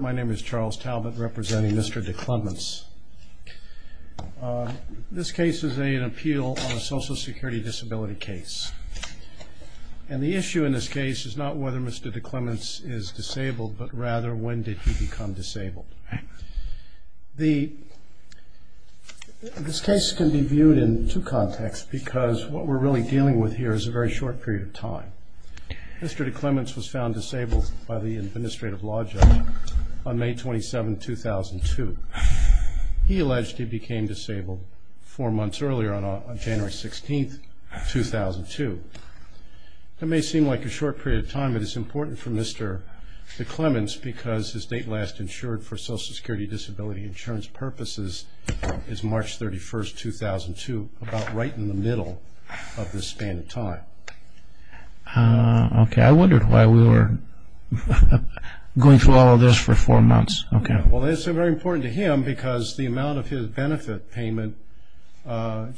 My name is Charles Talbot representing Mr. DeClements. This case is an appeal on a social security disability case. And the issue in this case is not whether Mr. DeClements is disabled, but rather when did he become disabled. This case can be viewed in two contexts because what we're really dealing with here is a very short period of time. Mr. DeClements was found disabled by the administrative law judge on May 27, 2002. He alleged he became disabled four months earlier on January 16, 2002. It may seem like a short period of time, but it's important for Mr. DeClements because his date last insured for social security disability insurance purposes is March 31, 2002, about right in the middle of this span of time. I wondered why we were going through all of this for four months. Well, it's very important to him because the amount of his benefit payment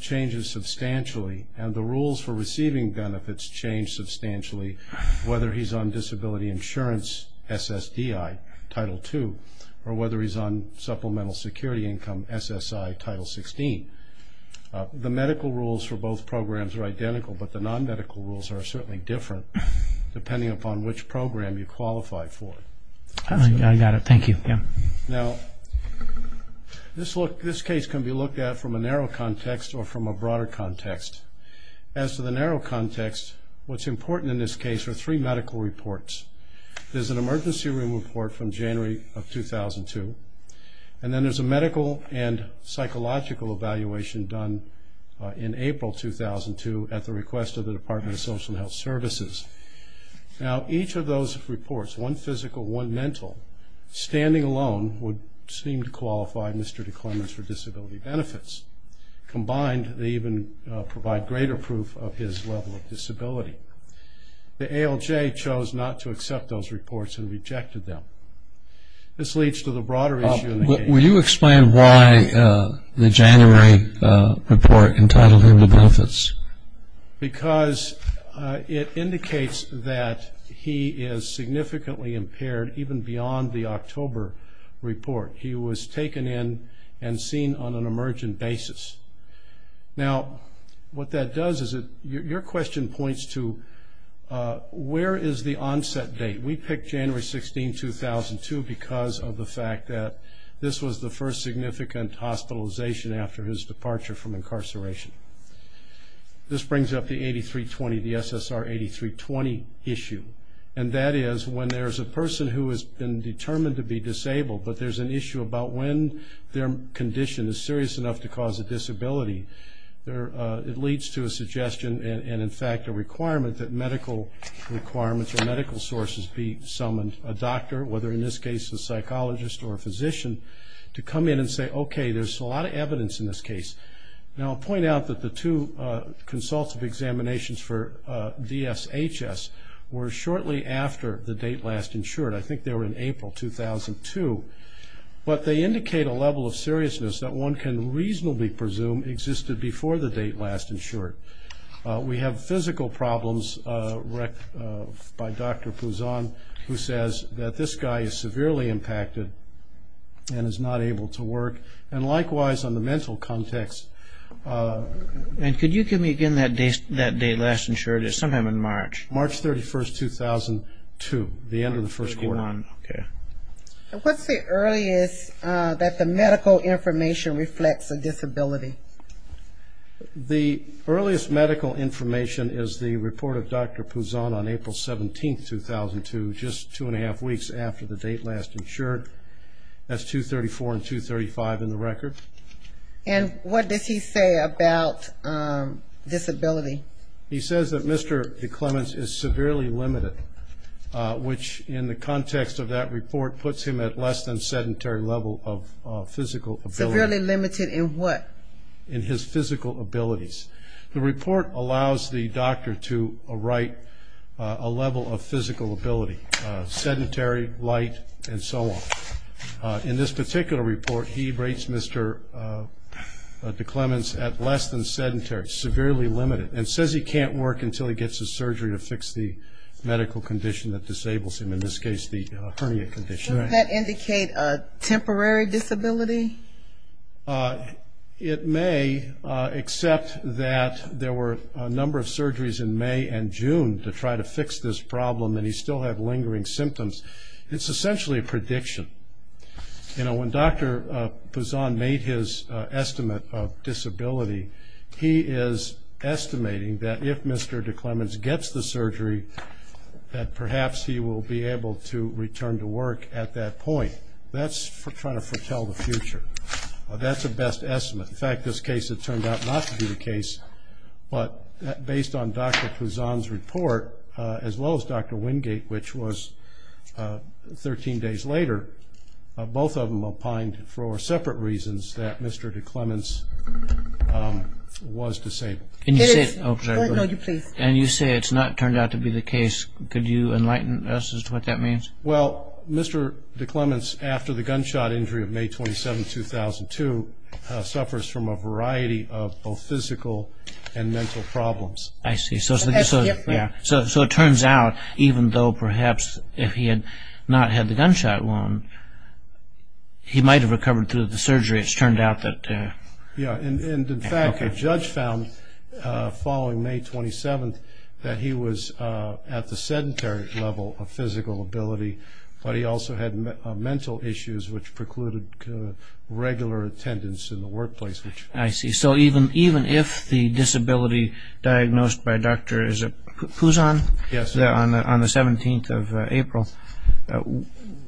changes substantially, and the rules for receiving benefits change substantially whether he's on disability insurance SSDI, Title II, or whether he's on supplemental security income SSI, Title XVI. The medical rules for both programs are identical, but the non-medical rules are certainly different depending upon which program you qualify for. I got it. Thank you. Now, this case can be looked at from a narrow context or from a broader context. As to the narrow context, what's important in this case are three medical reports. There's an emergency room report from January of 2002, and then there's a medical and psychological evaluation done in April 2002 at the request of the Department of Social Health Services. Now, each of those reports, one physical, one mental, standing alone would seem to qualify Mr. DeClements for disability benefits. Combined, they even provide greater proof of his level of disability. The ALJ chose not to accept those reports and rejected them. This leads to the broader issue in the case. Will you explain why the January report entitled him to benefits? Because it indicates that he is significantly impaired even beyond the October report. He was taken in and seen on an emergent basis. Now, what that does is your question points to where is the onset date. We picked January 16, 2002, because of the fact that this was the first significant hospitalization after his departure from incarceration. This brings up the 8320, the SSR 8320 issue, and that is when there's a person who has been determined to be disabled, but there's an issue about when their condition is serious enough to cause a disability. It leads to a suggestion and, in fact, a requirement that medical requirements or medical sources be summoned, a doctor, whether in this case a psychologist or a physician, to come in and say, okay, there's a lot of evidence in this case. Now, I'll point out that the two consultative examinations for DSHS were shortly after the date last insured. I think they were in April 2002. But they indicate a level of seriousness that one can reasonably presume existed before the date last insured. We have physical problems by Dr. Pouzon, who says that this guy is severely impacted and is not able to work, and likewise on the mental context. And could you give me again that date last insured? It's sometime in March. March 31, 2002, the end of the first quarter. March 31, okay. What's the earliest that the medical information reflects a disability? The earliest medical information is the report of Dr. Pouzon on April 17, 2002, just two and a half weeks after the date last insured. That's 234 and 235 in the record. And what does he say about disability? He says that Mr. DeClements is severely limited, which in the context of that report puts him at less than sedentary level of physical ability. Severely limited in what? In his physical abilities. The report allows the doctor to write a level of physical ability, sedentary, light, and so on. In this particular report, he rates Mr. DeClements at less than sedentary, severely limited, and says he can't work until he gets his surgery to fix the medical condition that disables him, in this case the hernia condition. Does that indicate a temporary disability? It may, except that there were a number of surgeries in May and June to try to fix this problem, and he still had lingering symptoms. It's essentially a prediction. You know, when Dr. Pouzon made his estimate of disability, he is estimating that if Mr. DeClements gets the surgery, that perhaps he will be able to return to work at that point. That's trying to foretell the future. That's a best estimate. In fact, this case, it turned out not to be the case, but based on Dr. Pouzon's report, as well as Dr. Wingate, which was 13 days later, both of them opined for separate reasons that Mr. DeClements was disabled. And you say it's not turned out to be the case. Could you enlighten us as to what that means? Well, Mr. DeClements, after the gunshot injury of May 27, 2002, suffers from a variety of both physical and mental problems. I see. So it turns out, even though perhaps if he had not had the gunshot wound, he might have recovered through the surgery. It's turned out that... Yeah, and in fact, a judge found following May 27 that he was at the sedentary level of physical ability, but he also had mental issues which precluded regular attendance in the workplace. I see. So even if the disability diagnosed by Dr. Pouzon on the 17th of April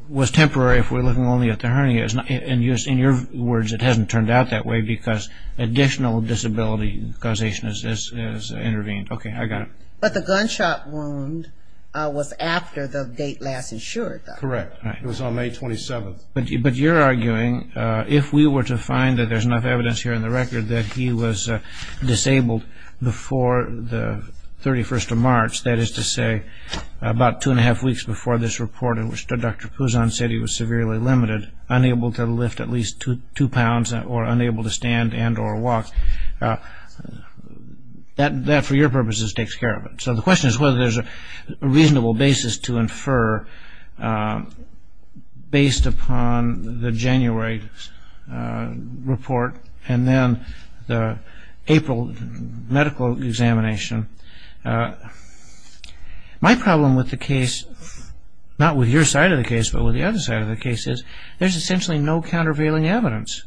was temporary, if we're looking only at the hernia, in your words, it hasn't turned out that way because additional disability causation has intervened. Okay, I got it. But the gunshot wound was after the date last insured, though. Correct. It was on May 27. But you're arguing if we were to find that there's enough evidence here in the record that he was disabled before the 31st of March, that is to say about two and a half weeks before this report in which Dr. Pouzon said he was severely limited, unable to lift at least two pounds or unable to stand and or walk, that for your purposes takes care of it. So the question is whether there's a reasonable basis to infer based upon the January report and then the April medical examination. My problem with the case, not with your side of the case but with the other side of the case, is there's essentially no countervailing evidence.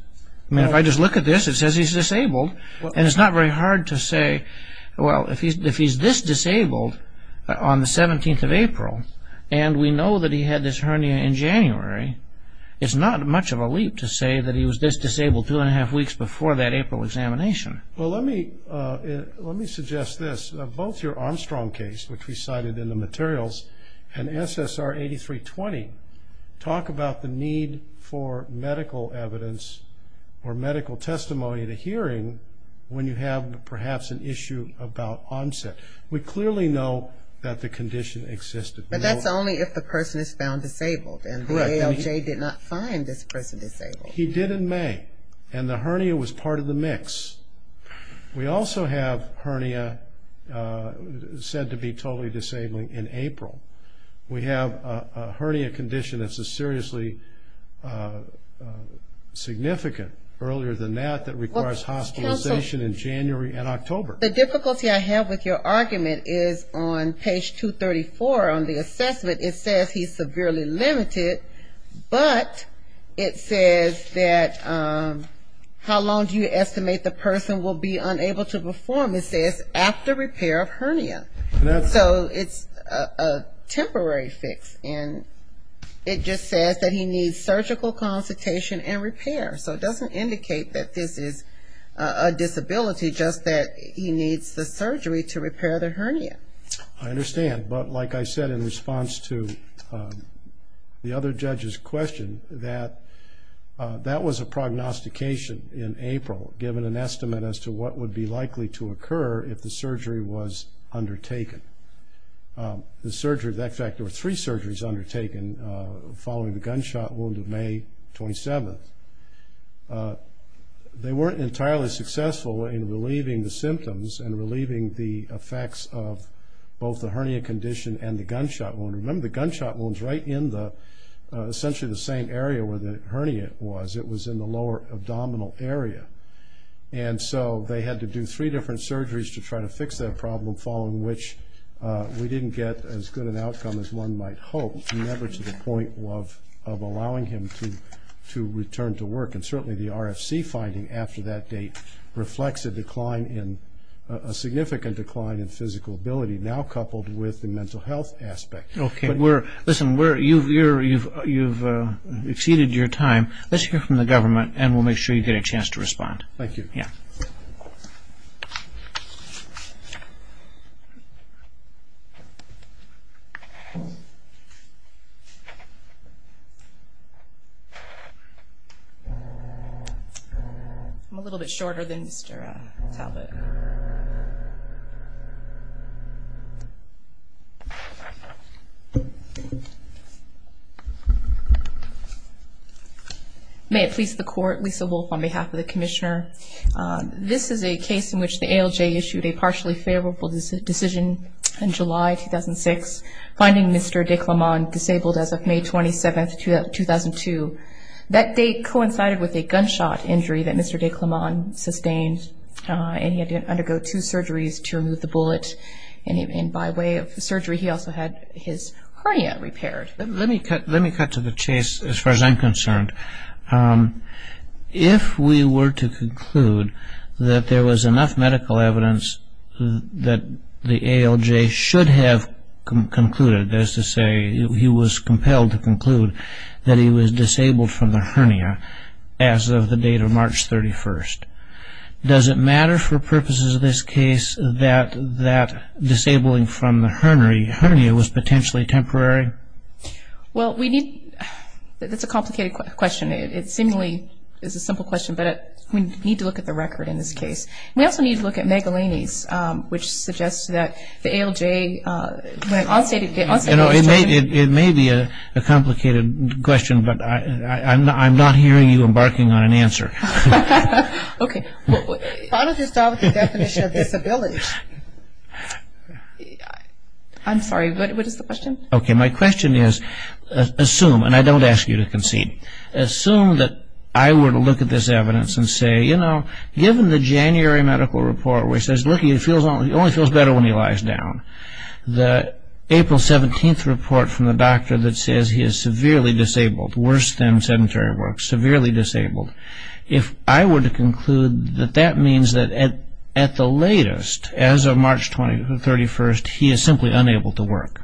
I mean, if I just look at this, it says he's disabled, and it's not very hard to say, well, if he's this disabled on the 17th of April and we know that he had this hernia in January, it's not much of a leap to say that he was this disabled two and a half weeks before that April examination. Well, let me suggest this. Both your Armstrong case, which we cited in the materials, and SSR 8320 talk about the need for medical evidence or medical testimony to hearing when you have perhaps an issue about onset. We clearly know that the condition existed. But that's only if the person is found disabled, and the ALJ did not find this person disabled. He did in May, and the hernia was part of the mix. We also have hernia said to be totally disabled in April. We have a hernia condition that's a seriously significant. Earlier than that, that requires hospitalization in January and October. The difficulty I have with your argument is on page 234 on the assessment, it says he's severely limited, but it says that how long do you estimate the person will be unable to perform? It says after repair of hernia. So it's a temporary fix, and it just says that he needs surgical consultation and repair. So it doesn't indicate that this is a disability, just that he needs the surgery to repair the hernia. I understand, but like I said in response to the other judge's question, that that was a prognostication in April, given an estimate as to what would be likely to occur if the surgery was undertaken. In fact, there were three surgeries undertaken following the gunshot wound of May 27th. They weren't entirely successful in relieving the symptoms and relieving the effects of both the hernia condition and the gunshot wound. Remember, the gunshot wound is right in essentially the same area where the hernia was. It was in the lower abdominal area. And so they had to do three different surgeries to try to fix that problem, following which we didn't get as good an outcome as one might hope, never to the point of allowing him to return to work. And certainly the RFC finding after that date reflects a decline in – a significant decline in physical ability, now coupled with the mental health aspect. Okay. Listen, you've exceeded your time. Let's hear from the government and we'll make sure you get a chance to respond. Thank you. Yeah. I'm a little bit shorter than Mr. Talbot. May it please the Court. Lisa Wolfe on behalf of the Commissioner. This is a case in which the ALJ issued a partially favorable decision in July 2006, finding Mr. de Clement disabled as of May 27th, 2002. That date coincided with a gunshot injury that Mr. de Clement sustained and he had to undergo two surgeries to remove the bullet. And by way of surgery, he also had his hernia repaired. Let me cut to the chase as far as I'm concerned. If we were to conclude that there was enough medical evidence that the ALJ should have concluded, that is to say he was compelled to conclude that he was disabled from the hernia as of the date of March 31st, does it matter for purposes of this case that disabling from the hernia was potentially temporary? Well, we need – that's a complicated question. It seemingly is a simple question, but we need to look at the record in this case. We also need to look at Megalaney's, which suggests that the ALJ – You know, it may be a complicated question, but I'm not hearing you embarking on an answer. Okay. Why don't you start with the definition of disability? I'm sorry. What is the question? Okay. My question is, assume – and I don't ask you to concede – assume that I were to look at this evidence and say, you know, given the January medical report which says, look, he only feels better when he lies down, the April 17th report from the doctor that says he is severely disabled, worse than sedentary work, severely disabled, if I were to conclude that that means that at the latest, as of March 31st, he is simply unable to work.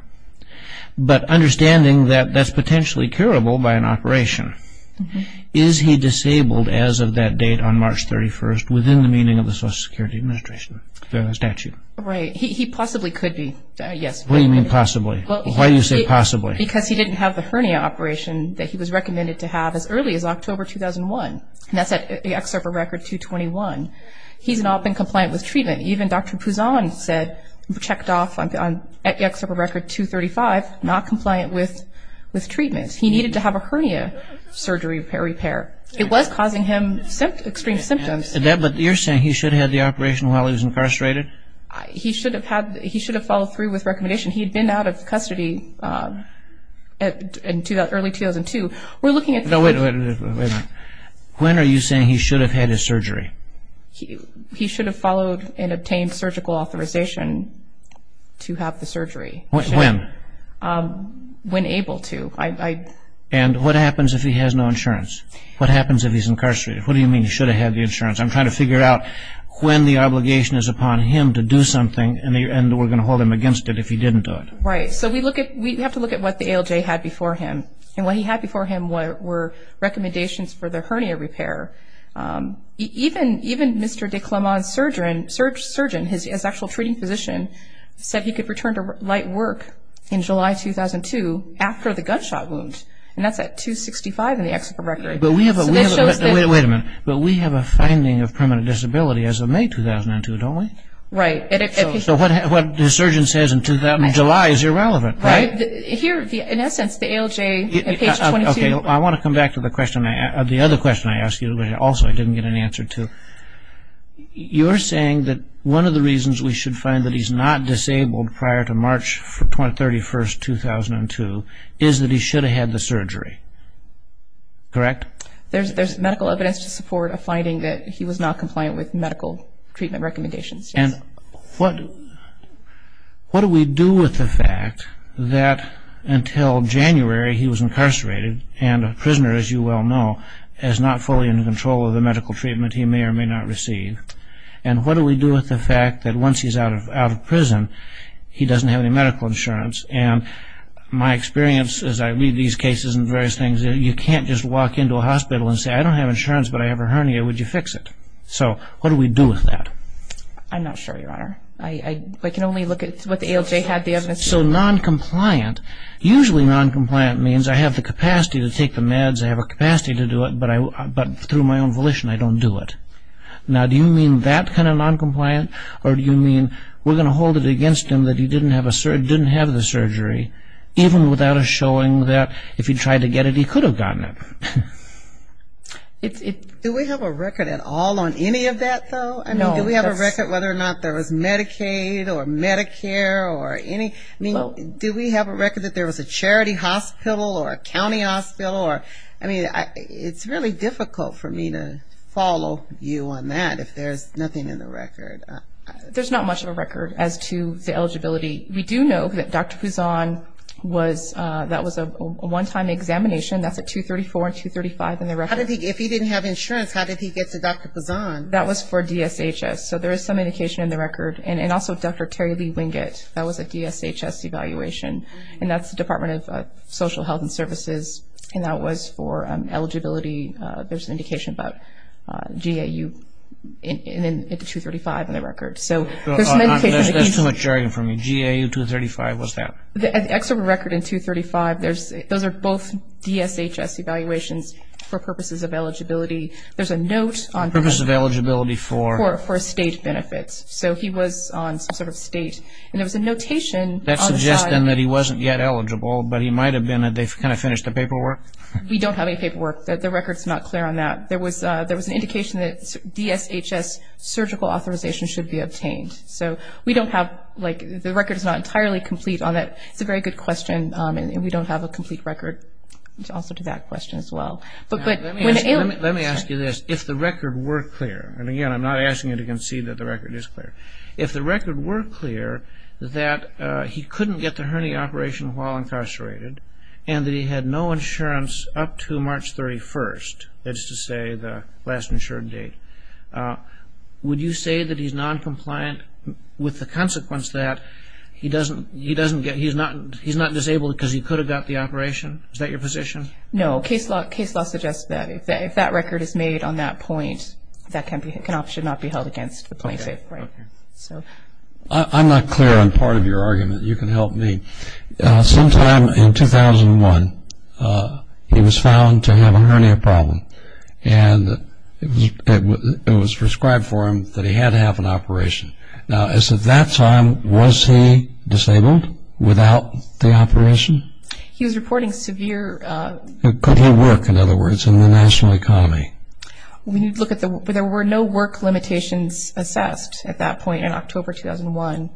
But understanding that that's potentially curable by an operation, is he disabled as of that date on March 31st within the meaning of the Social Security Administration statute? Right. He possibly could be, yes. What do you mean possibly? Why do you say possibly? Because he didn't have the hernia operation that he was recommended to have as early as October 2001. And that's at the excerpt of Record 221. He's not been compliant with treatment. Even Dr. Pouzan said – checked off at the excerpt of Record 235, not compliant with treatment. He needed to have a hernia surgery repair. It was causing him extreme symptoms. But you're saying he should have had the operation while he was incarcerated? He should have had – he should have followed through with recommendation. He had been out of custody in early 2002. We're looking at – No, wait a minute. When are you saying he should have had his surgery? He should have followed and obtained surgical authorization to have the surgery. When? When able to. And what happens if he has no insurance? What happens if he's incarcerated? What do you mean he should have had the insurance? I'm trying to figure out when the obligation is upon him to do something, and we're going to hold him against it if he didn't do it. Right. So we look at – we have to look at what the ALJ had before him. And what he had before him were recommendations for the hernia repair. Even Mr. de Clement's surgeon, his actual treating physician, said he could return to light work in July 2002 after the gunshot wound. And that's at 265 in the excerpt of Record. But we have a – wait a minute. But we have a finding of permanent disability as of May 2002, don't we? Right. So what the surgeon says in July is irrelevant, right? Here, in essence, the ALJ at page 22 – Okay. I want to come back to the question – the other question I asked you, which also I didn't get an answer to. You're saying that one of the reasons we should find that he's not disabled prior to March 31, 2002 is that he should have had the surgery, correct? There's medical evidence to support a finding that he was not compliant with medical treatment recommendations. And what do we do with the fact that until January he was incarcerated and a prisoner, as you well know, is not fully in control of the medical treatment he may or may not receive? And what do we do with the fact that once he's out of prison, he doesn't have any medical insurance? And my experience, as I read these cases and various things, you can't just walk into a hospital and say, I don't have insurance, but I have a hernia. Would you fix it? So what do we do with that? I'm not sure, Your Honor. I can only look at what the ALJ had the evidence to support. So noncompliant – usually noncompliant means I have the capacity to take the meds, I have a capacity to do it, but through my own volition I don't do it. Now, do you mean that kind of noncompliant, or do you mean we're going to hold it against him that he didn't have the surgery, even without us showing that if he tried to get it, he could have gotten it? Do we have a record at all on any of that, though? Do we have a record whether or not there was Medicaid or Medicare or any – do we have a record that there was a charity hospital or a county hospital? I mean, it's really difficult for me to follow you on that if there's nothing in the record. There's not much of a record as to the eligibility. We do know that Dr. Pouzon was – that was a one-time examination. That's at 234 and 235 in the record. How did he – if he didn't have insurance, how did he get to Dr. Pouzon? That was for DSHS, so there is some indication in the record. And also Dr. Terry Lee Wingate, that was a DSHS evaluation, and that's the Department of Social Health and Services, and that was for eligibility. There's an indication about GAU at 235 in the record. So there's an indication that he – There's too much jargon for me. GAU 235, what's that? The excerpt of the record in 235, those are both DSHS evaluations for purposes of eligibility. There's a note on – Purposes of eligibility for? For state benefits. So he was on some sort of state, and there was a notation on the side – that he wasn't yet eligible, but he might have been. They kind of finished the paperwork. We don't have any paperwork. The record's not clear on that. There was an indication that DSHS surgical authorization should be obtained. So we don't have – like, the record's not entirely complete on that. It's a very good question, and we don't have a complete record also to that question as well. Let me ask you this. If the record were clear – and again, I'm not asking you to concede that the record is clear. If the record were clear that he couldn't get the hernia operation while incarcerated and that he had no insurance up to March 31st, that is to say the last insured date, would you say that he's noncompliant with the consequence that he doesn't get – he's not disabled because he could have got the operation? Is that your position? No. Case law suggests that if that record is made on that point, that can option not be held against the plaintiff. Okay. I'm not clear on part of your argument. You can help me. Sometime in 2001, he was found to have a hernia problem, and it was prescribed for him that he had to have an operation. Now, as of that time, was he disabled without the operation? He was reporting severe – Could he work, in other words, in the national economy? There were no work limitations assessed at that point in October 2001,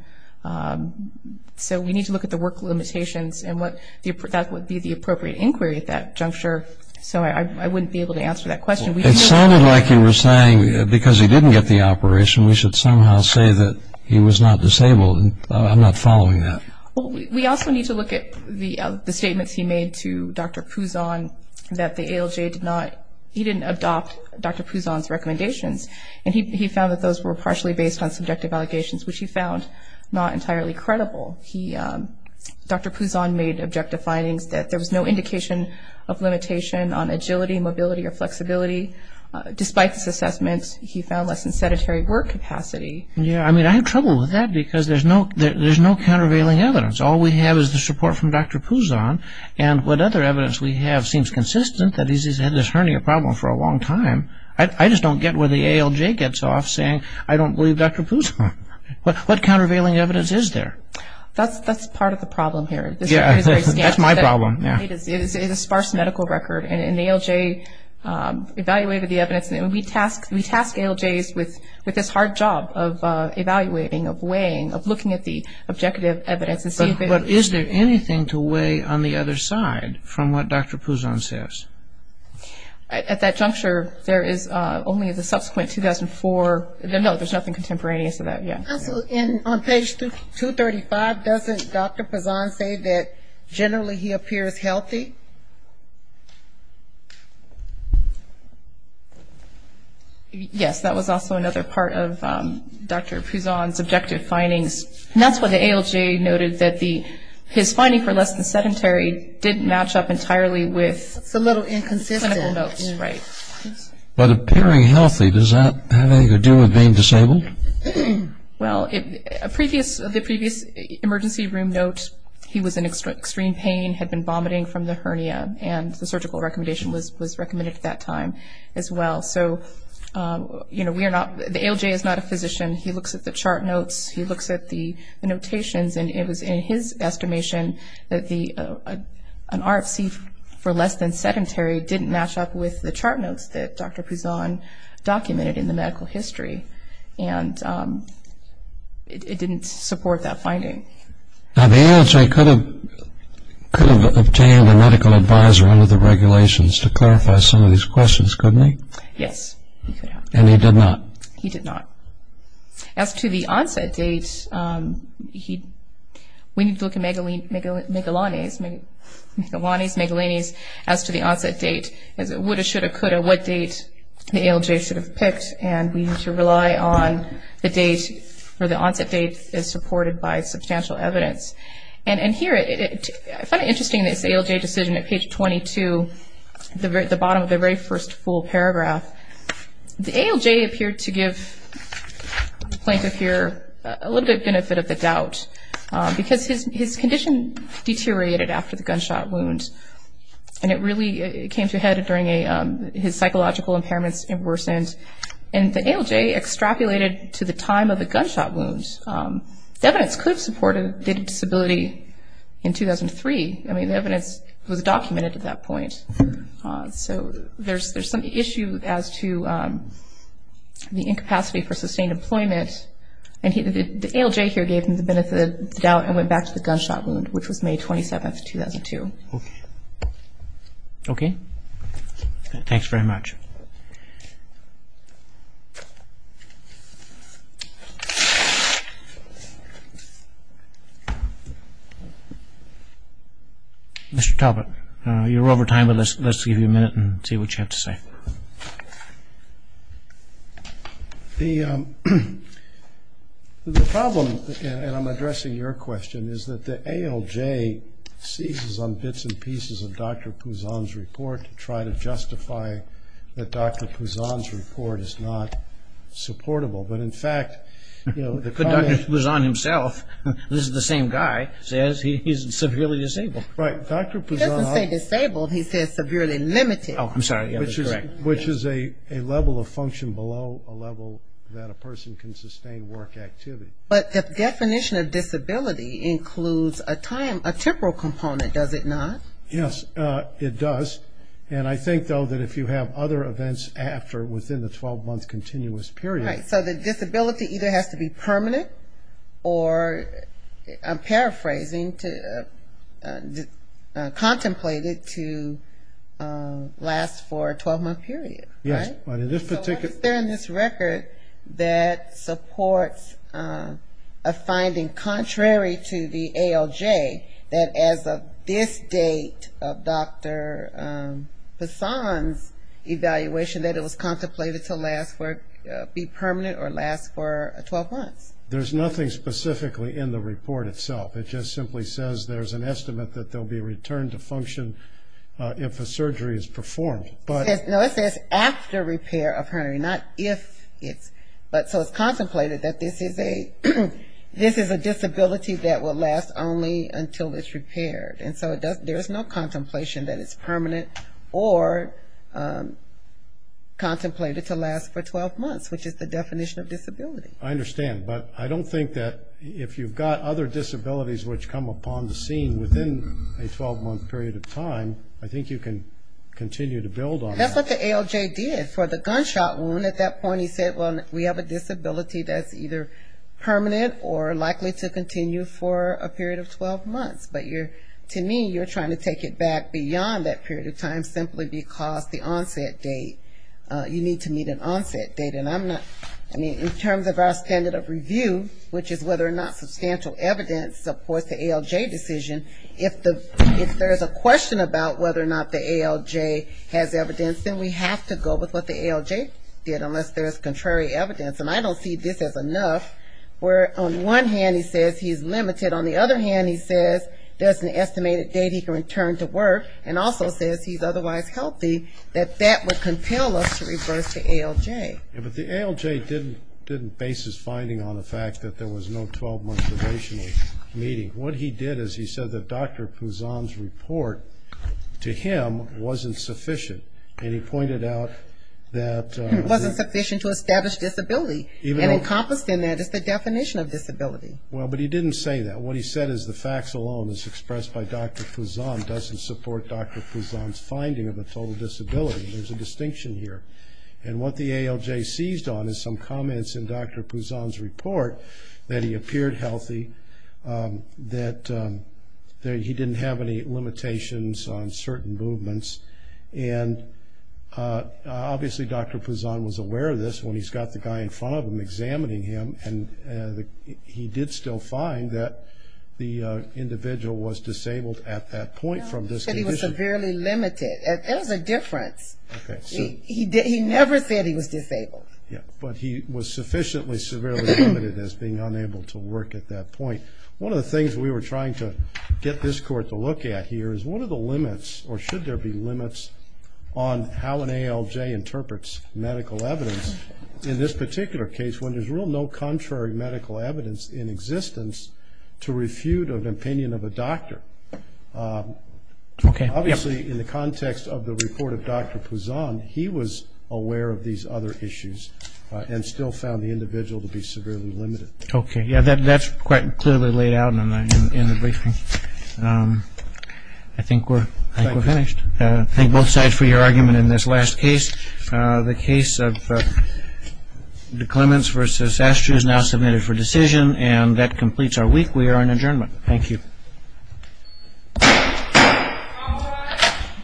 so we need to look at the work limitations and that would be the appropriate inquiry at that juncture. So I wouldn't be able to answer that question. It sounded like you were saying because he didn't get the operation, we should somehow say that he was not disabled. I'm not following that. We also need to look at the statements he made to Dr. Pouzon that the ALJ did not – adopt Dr. Pouzon's recommendations, and he found that those were partially based on subjective allegations, which he found not entirely credible. Dr. Pouzon made objective findings that there was no indication of limitation on agility, mobility, or flexibility. Despite this assessment, he found less than sedentary work capacity. Yeah, I mean, I have trouble with that because there's no countervailing evidence. All we have is the support from Dr. Pouzon, and what other evidence we have seems consistent that he's had this hernia problem for a long time. I just don't get where the ALJ gets off saying, I don't believe Dr. Pouzon. What countervailing evidence is there? That's part of the problem here. Yeah, that's my problem. It is a sparse medical record, and the ALJ evaluated the evidence, and we task ALJs with this hard job of evaluating, of weighing, of looking at the objective evidence. But is there anything to weigh on the other side from what Dr. Pouzon says? At that juncture, there is only the subsequent 2004. No, there's nothing contemporaneous to that, yeah. Also, on page 235, doesn't Dr. Pouzon say that generally he appears healthy? Yes, that was also another part of Dr. Pouzon's objective findings. And that's what the ALJ noted, that his finding for less than sedentary didn't match up entirely with clinical notes. It's a little inconsistent. But appearing healthy, does that have anything to do with being disabled? Well, the previous emergency room note, he was in extreme pain, had been vomiting from the hernia, and the surgical recommendation was recommended at that time as well. So, you know, the ALJ is not a physician. He looks at the chart notes, he looks at the notations, and it was in his estimation that an RFC for less than sedentary didn't match up with the chart notes that Dr. Pouzon documented in the medical history. And it didn't support that finding. Now, the ALJ could have obtained a medical advisor under the regulations to clarify some of these questions, couldn't he? Yes, he could have. And he did not? He did not. As to the onset date, we need to look at Megalanes, Megalanes, as to the onset date, as it would have, should have, could have, what date the ALJ should have picked, and we need to rely on the date where the onset date is supported by substantial evidence. And here, I find it interesting, this ALJ decision at page 22, the bottom of the very first full paragraph, the ALJ appeared to give the plaintiff here a little bit of benefit of the doubt because his condition deteriorated after the gunshot wound, and it really came to a head during his psychological impairments worsened. And the ALJ extrapolated to the time of the gunshot wound. The evidence could support a disability in 2003. I mean, the evidence was documented at that point. So there's some issue as to the incapacity for sustained employment, and the ALJ here gave him the benefit of the doubt and went back to the gunshot wound, which was May 27, 2002. Okay. Okay? Thanks very much. Thank you. Mr. Talbot, you're over time, but let's give you a minute and see what you have to say. The problem, and I'm addressing your question, is that the ALJ seizes on bits and pieces of Dr. Pouzan's report to try to justify that Dr. Pouzan's report is not supportable. But, in fact, you know, the client... But Dr. Pouzan himself, this is the same guy, says he's severely disabled. Right. Dr. Pouzan... He doesn't say disabled. He says severely limited. Oh, I'm sorry. That's correct. Which is a level of function below a level that a person can sustain work activity. But the definition of disability includes a temporal component, does it not? Yes, it does. And I think, though, that if you have other events after, within the 12-month continuous period... Right. So the disability either has to be permanent or, I'm paraphrasing, Yes. So what is there in this record that supports a finding contrary to the ALJ, that as of this date of Dr. Pouzan's evaluation, that it was contemplated to be permanent or last for 12 months? There's nothing specifically in the report itself. It just simply says there's an estimate that there will be a return to function if a surgery is performed. No, it says after repair of hernia, not if. So it's contemplated that this is a disability that will last only until it's repaired. And so there's no contemplation that it's permanent or contemplated to last for 12 months, which is the definition of disability. I understand. But I don't think that if you've got other disabilities which come upon the scene within a 12-month period of time, I think you can continue to build on that. That's what the ALJ did for the gunshot wound. At that point he said, well, we have a disability that's either permanent or likely to continue for a period of 12 months. But to me, you're trying to take it back beyond that period of time simply because the onset date, you need to meet an onset date. And I'm not, I mean, in terms of our standard of review, which is whether or not substantial evidence supports the ALJ decision, if there's a question about whether or not the ALJ has evidence, then we have to go with what the ALJ did unless there's contrary evidence. And I don't see this as enough, where on one hand he says he's limited. On the other hand, he says there's an estimated date he can return to work and also says he's otherwise healthy, that that would compel us to reverse the ALJ. But the ALJ didn't base his finding on the fact that there was no 12-month observational meeting. What he did is he said that Dr. Pouzan's report, to him, wasn't sufficient. And he pointed out that- It wasn't sufficient to establish disability. And encompassed in that is the definition of disability. Well, but he didn't say that. What he said is the facts alone, as expressed by Dr. Pouzan, doesn't support Dr. Pouzan's finding of a total disability. There's a distinction here. And what the ALJ seized on is some comments in Dr. Pouzan's report that he appeared healthy, that he didn't have any limitations on certain movements. And obviously Dr. Pouzan was aware of this when he's got the guy in front of him examining him, and he did still find that the individual was disabled at that point from this condition. No, he said he was severely limited. There was a difference. He never said he was disabled. Yeah, but he was sufficiently severely limited as being unable to work at that point. One of the things we were trying to get this court to look at here is what are the limits, or should there be limits, on how an ALJ interprets medical evidence in this particular case when there's really no contrary medical evidence in existence to refute an opinion of a doctor? Okay. Obviously, in the context of the report of Dr. Pouzan, he was aware of these other issues and still found the individual to be severely limited. Okay. Yeah, that's quite clearly laid out in the briefing. I think we're finished. Thank you. Thank both sides for your argument in this last case. The case of the Clements v. Astro is now submitted for decision, and that completes our week. We are in adjournment. Thank you.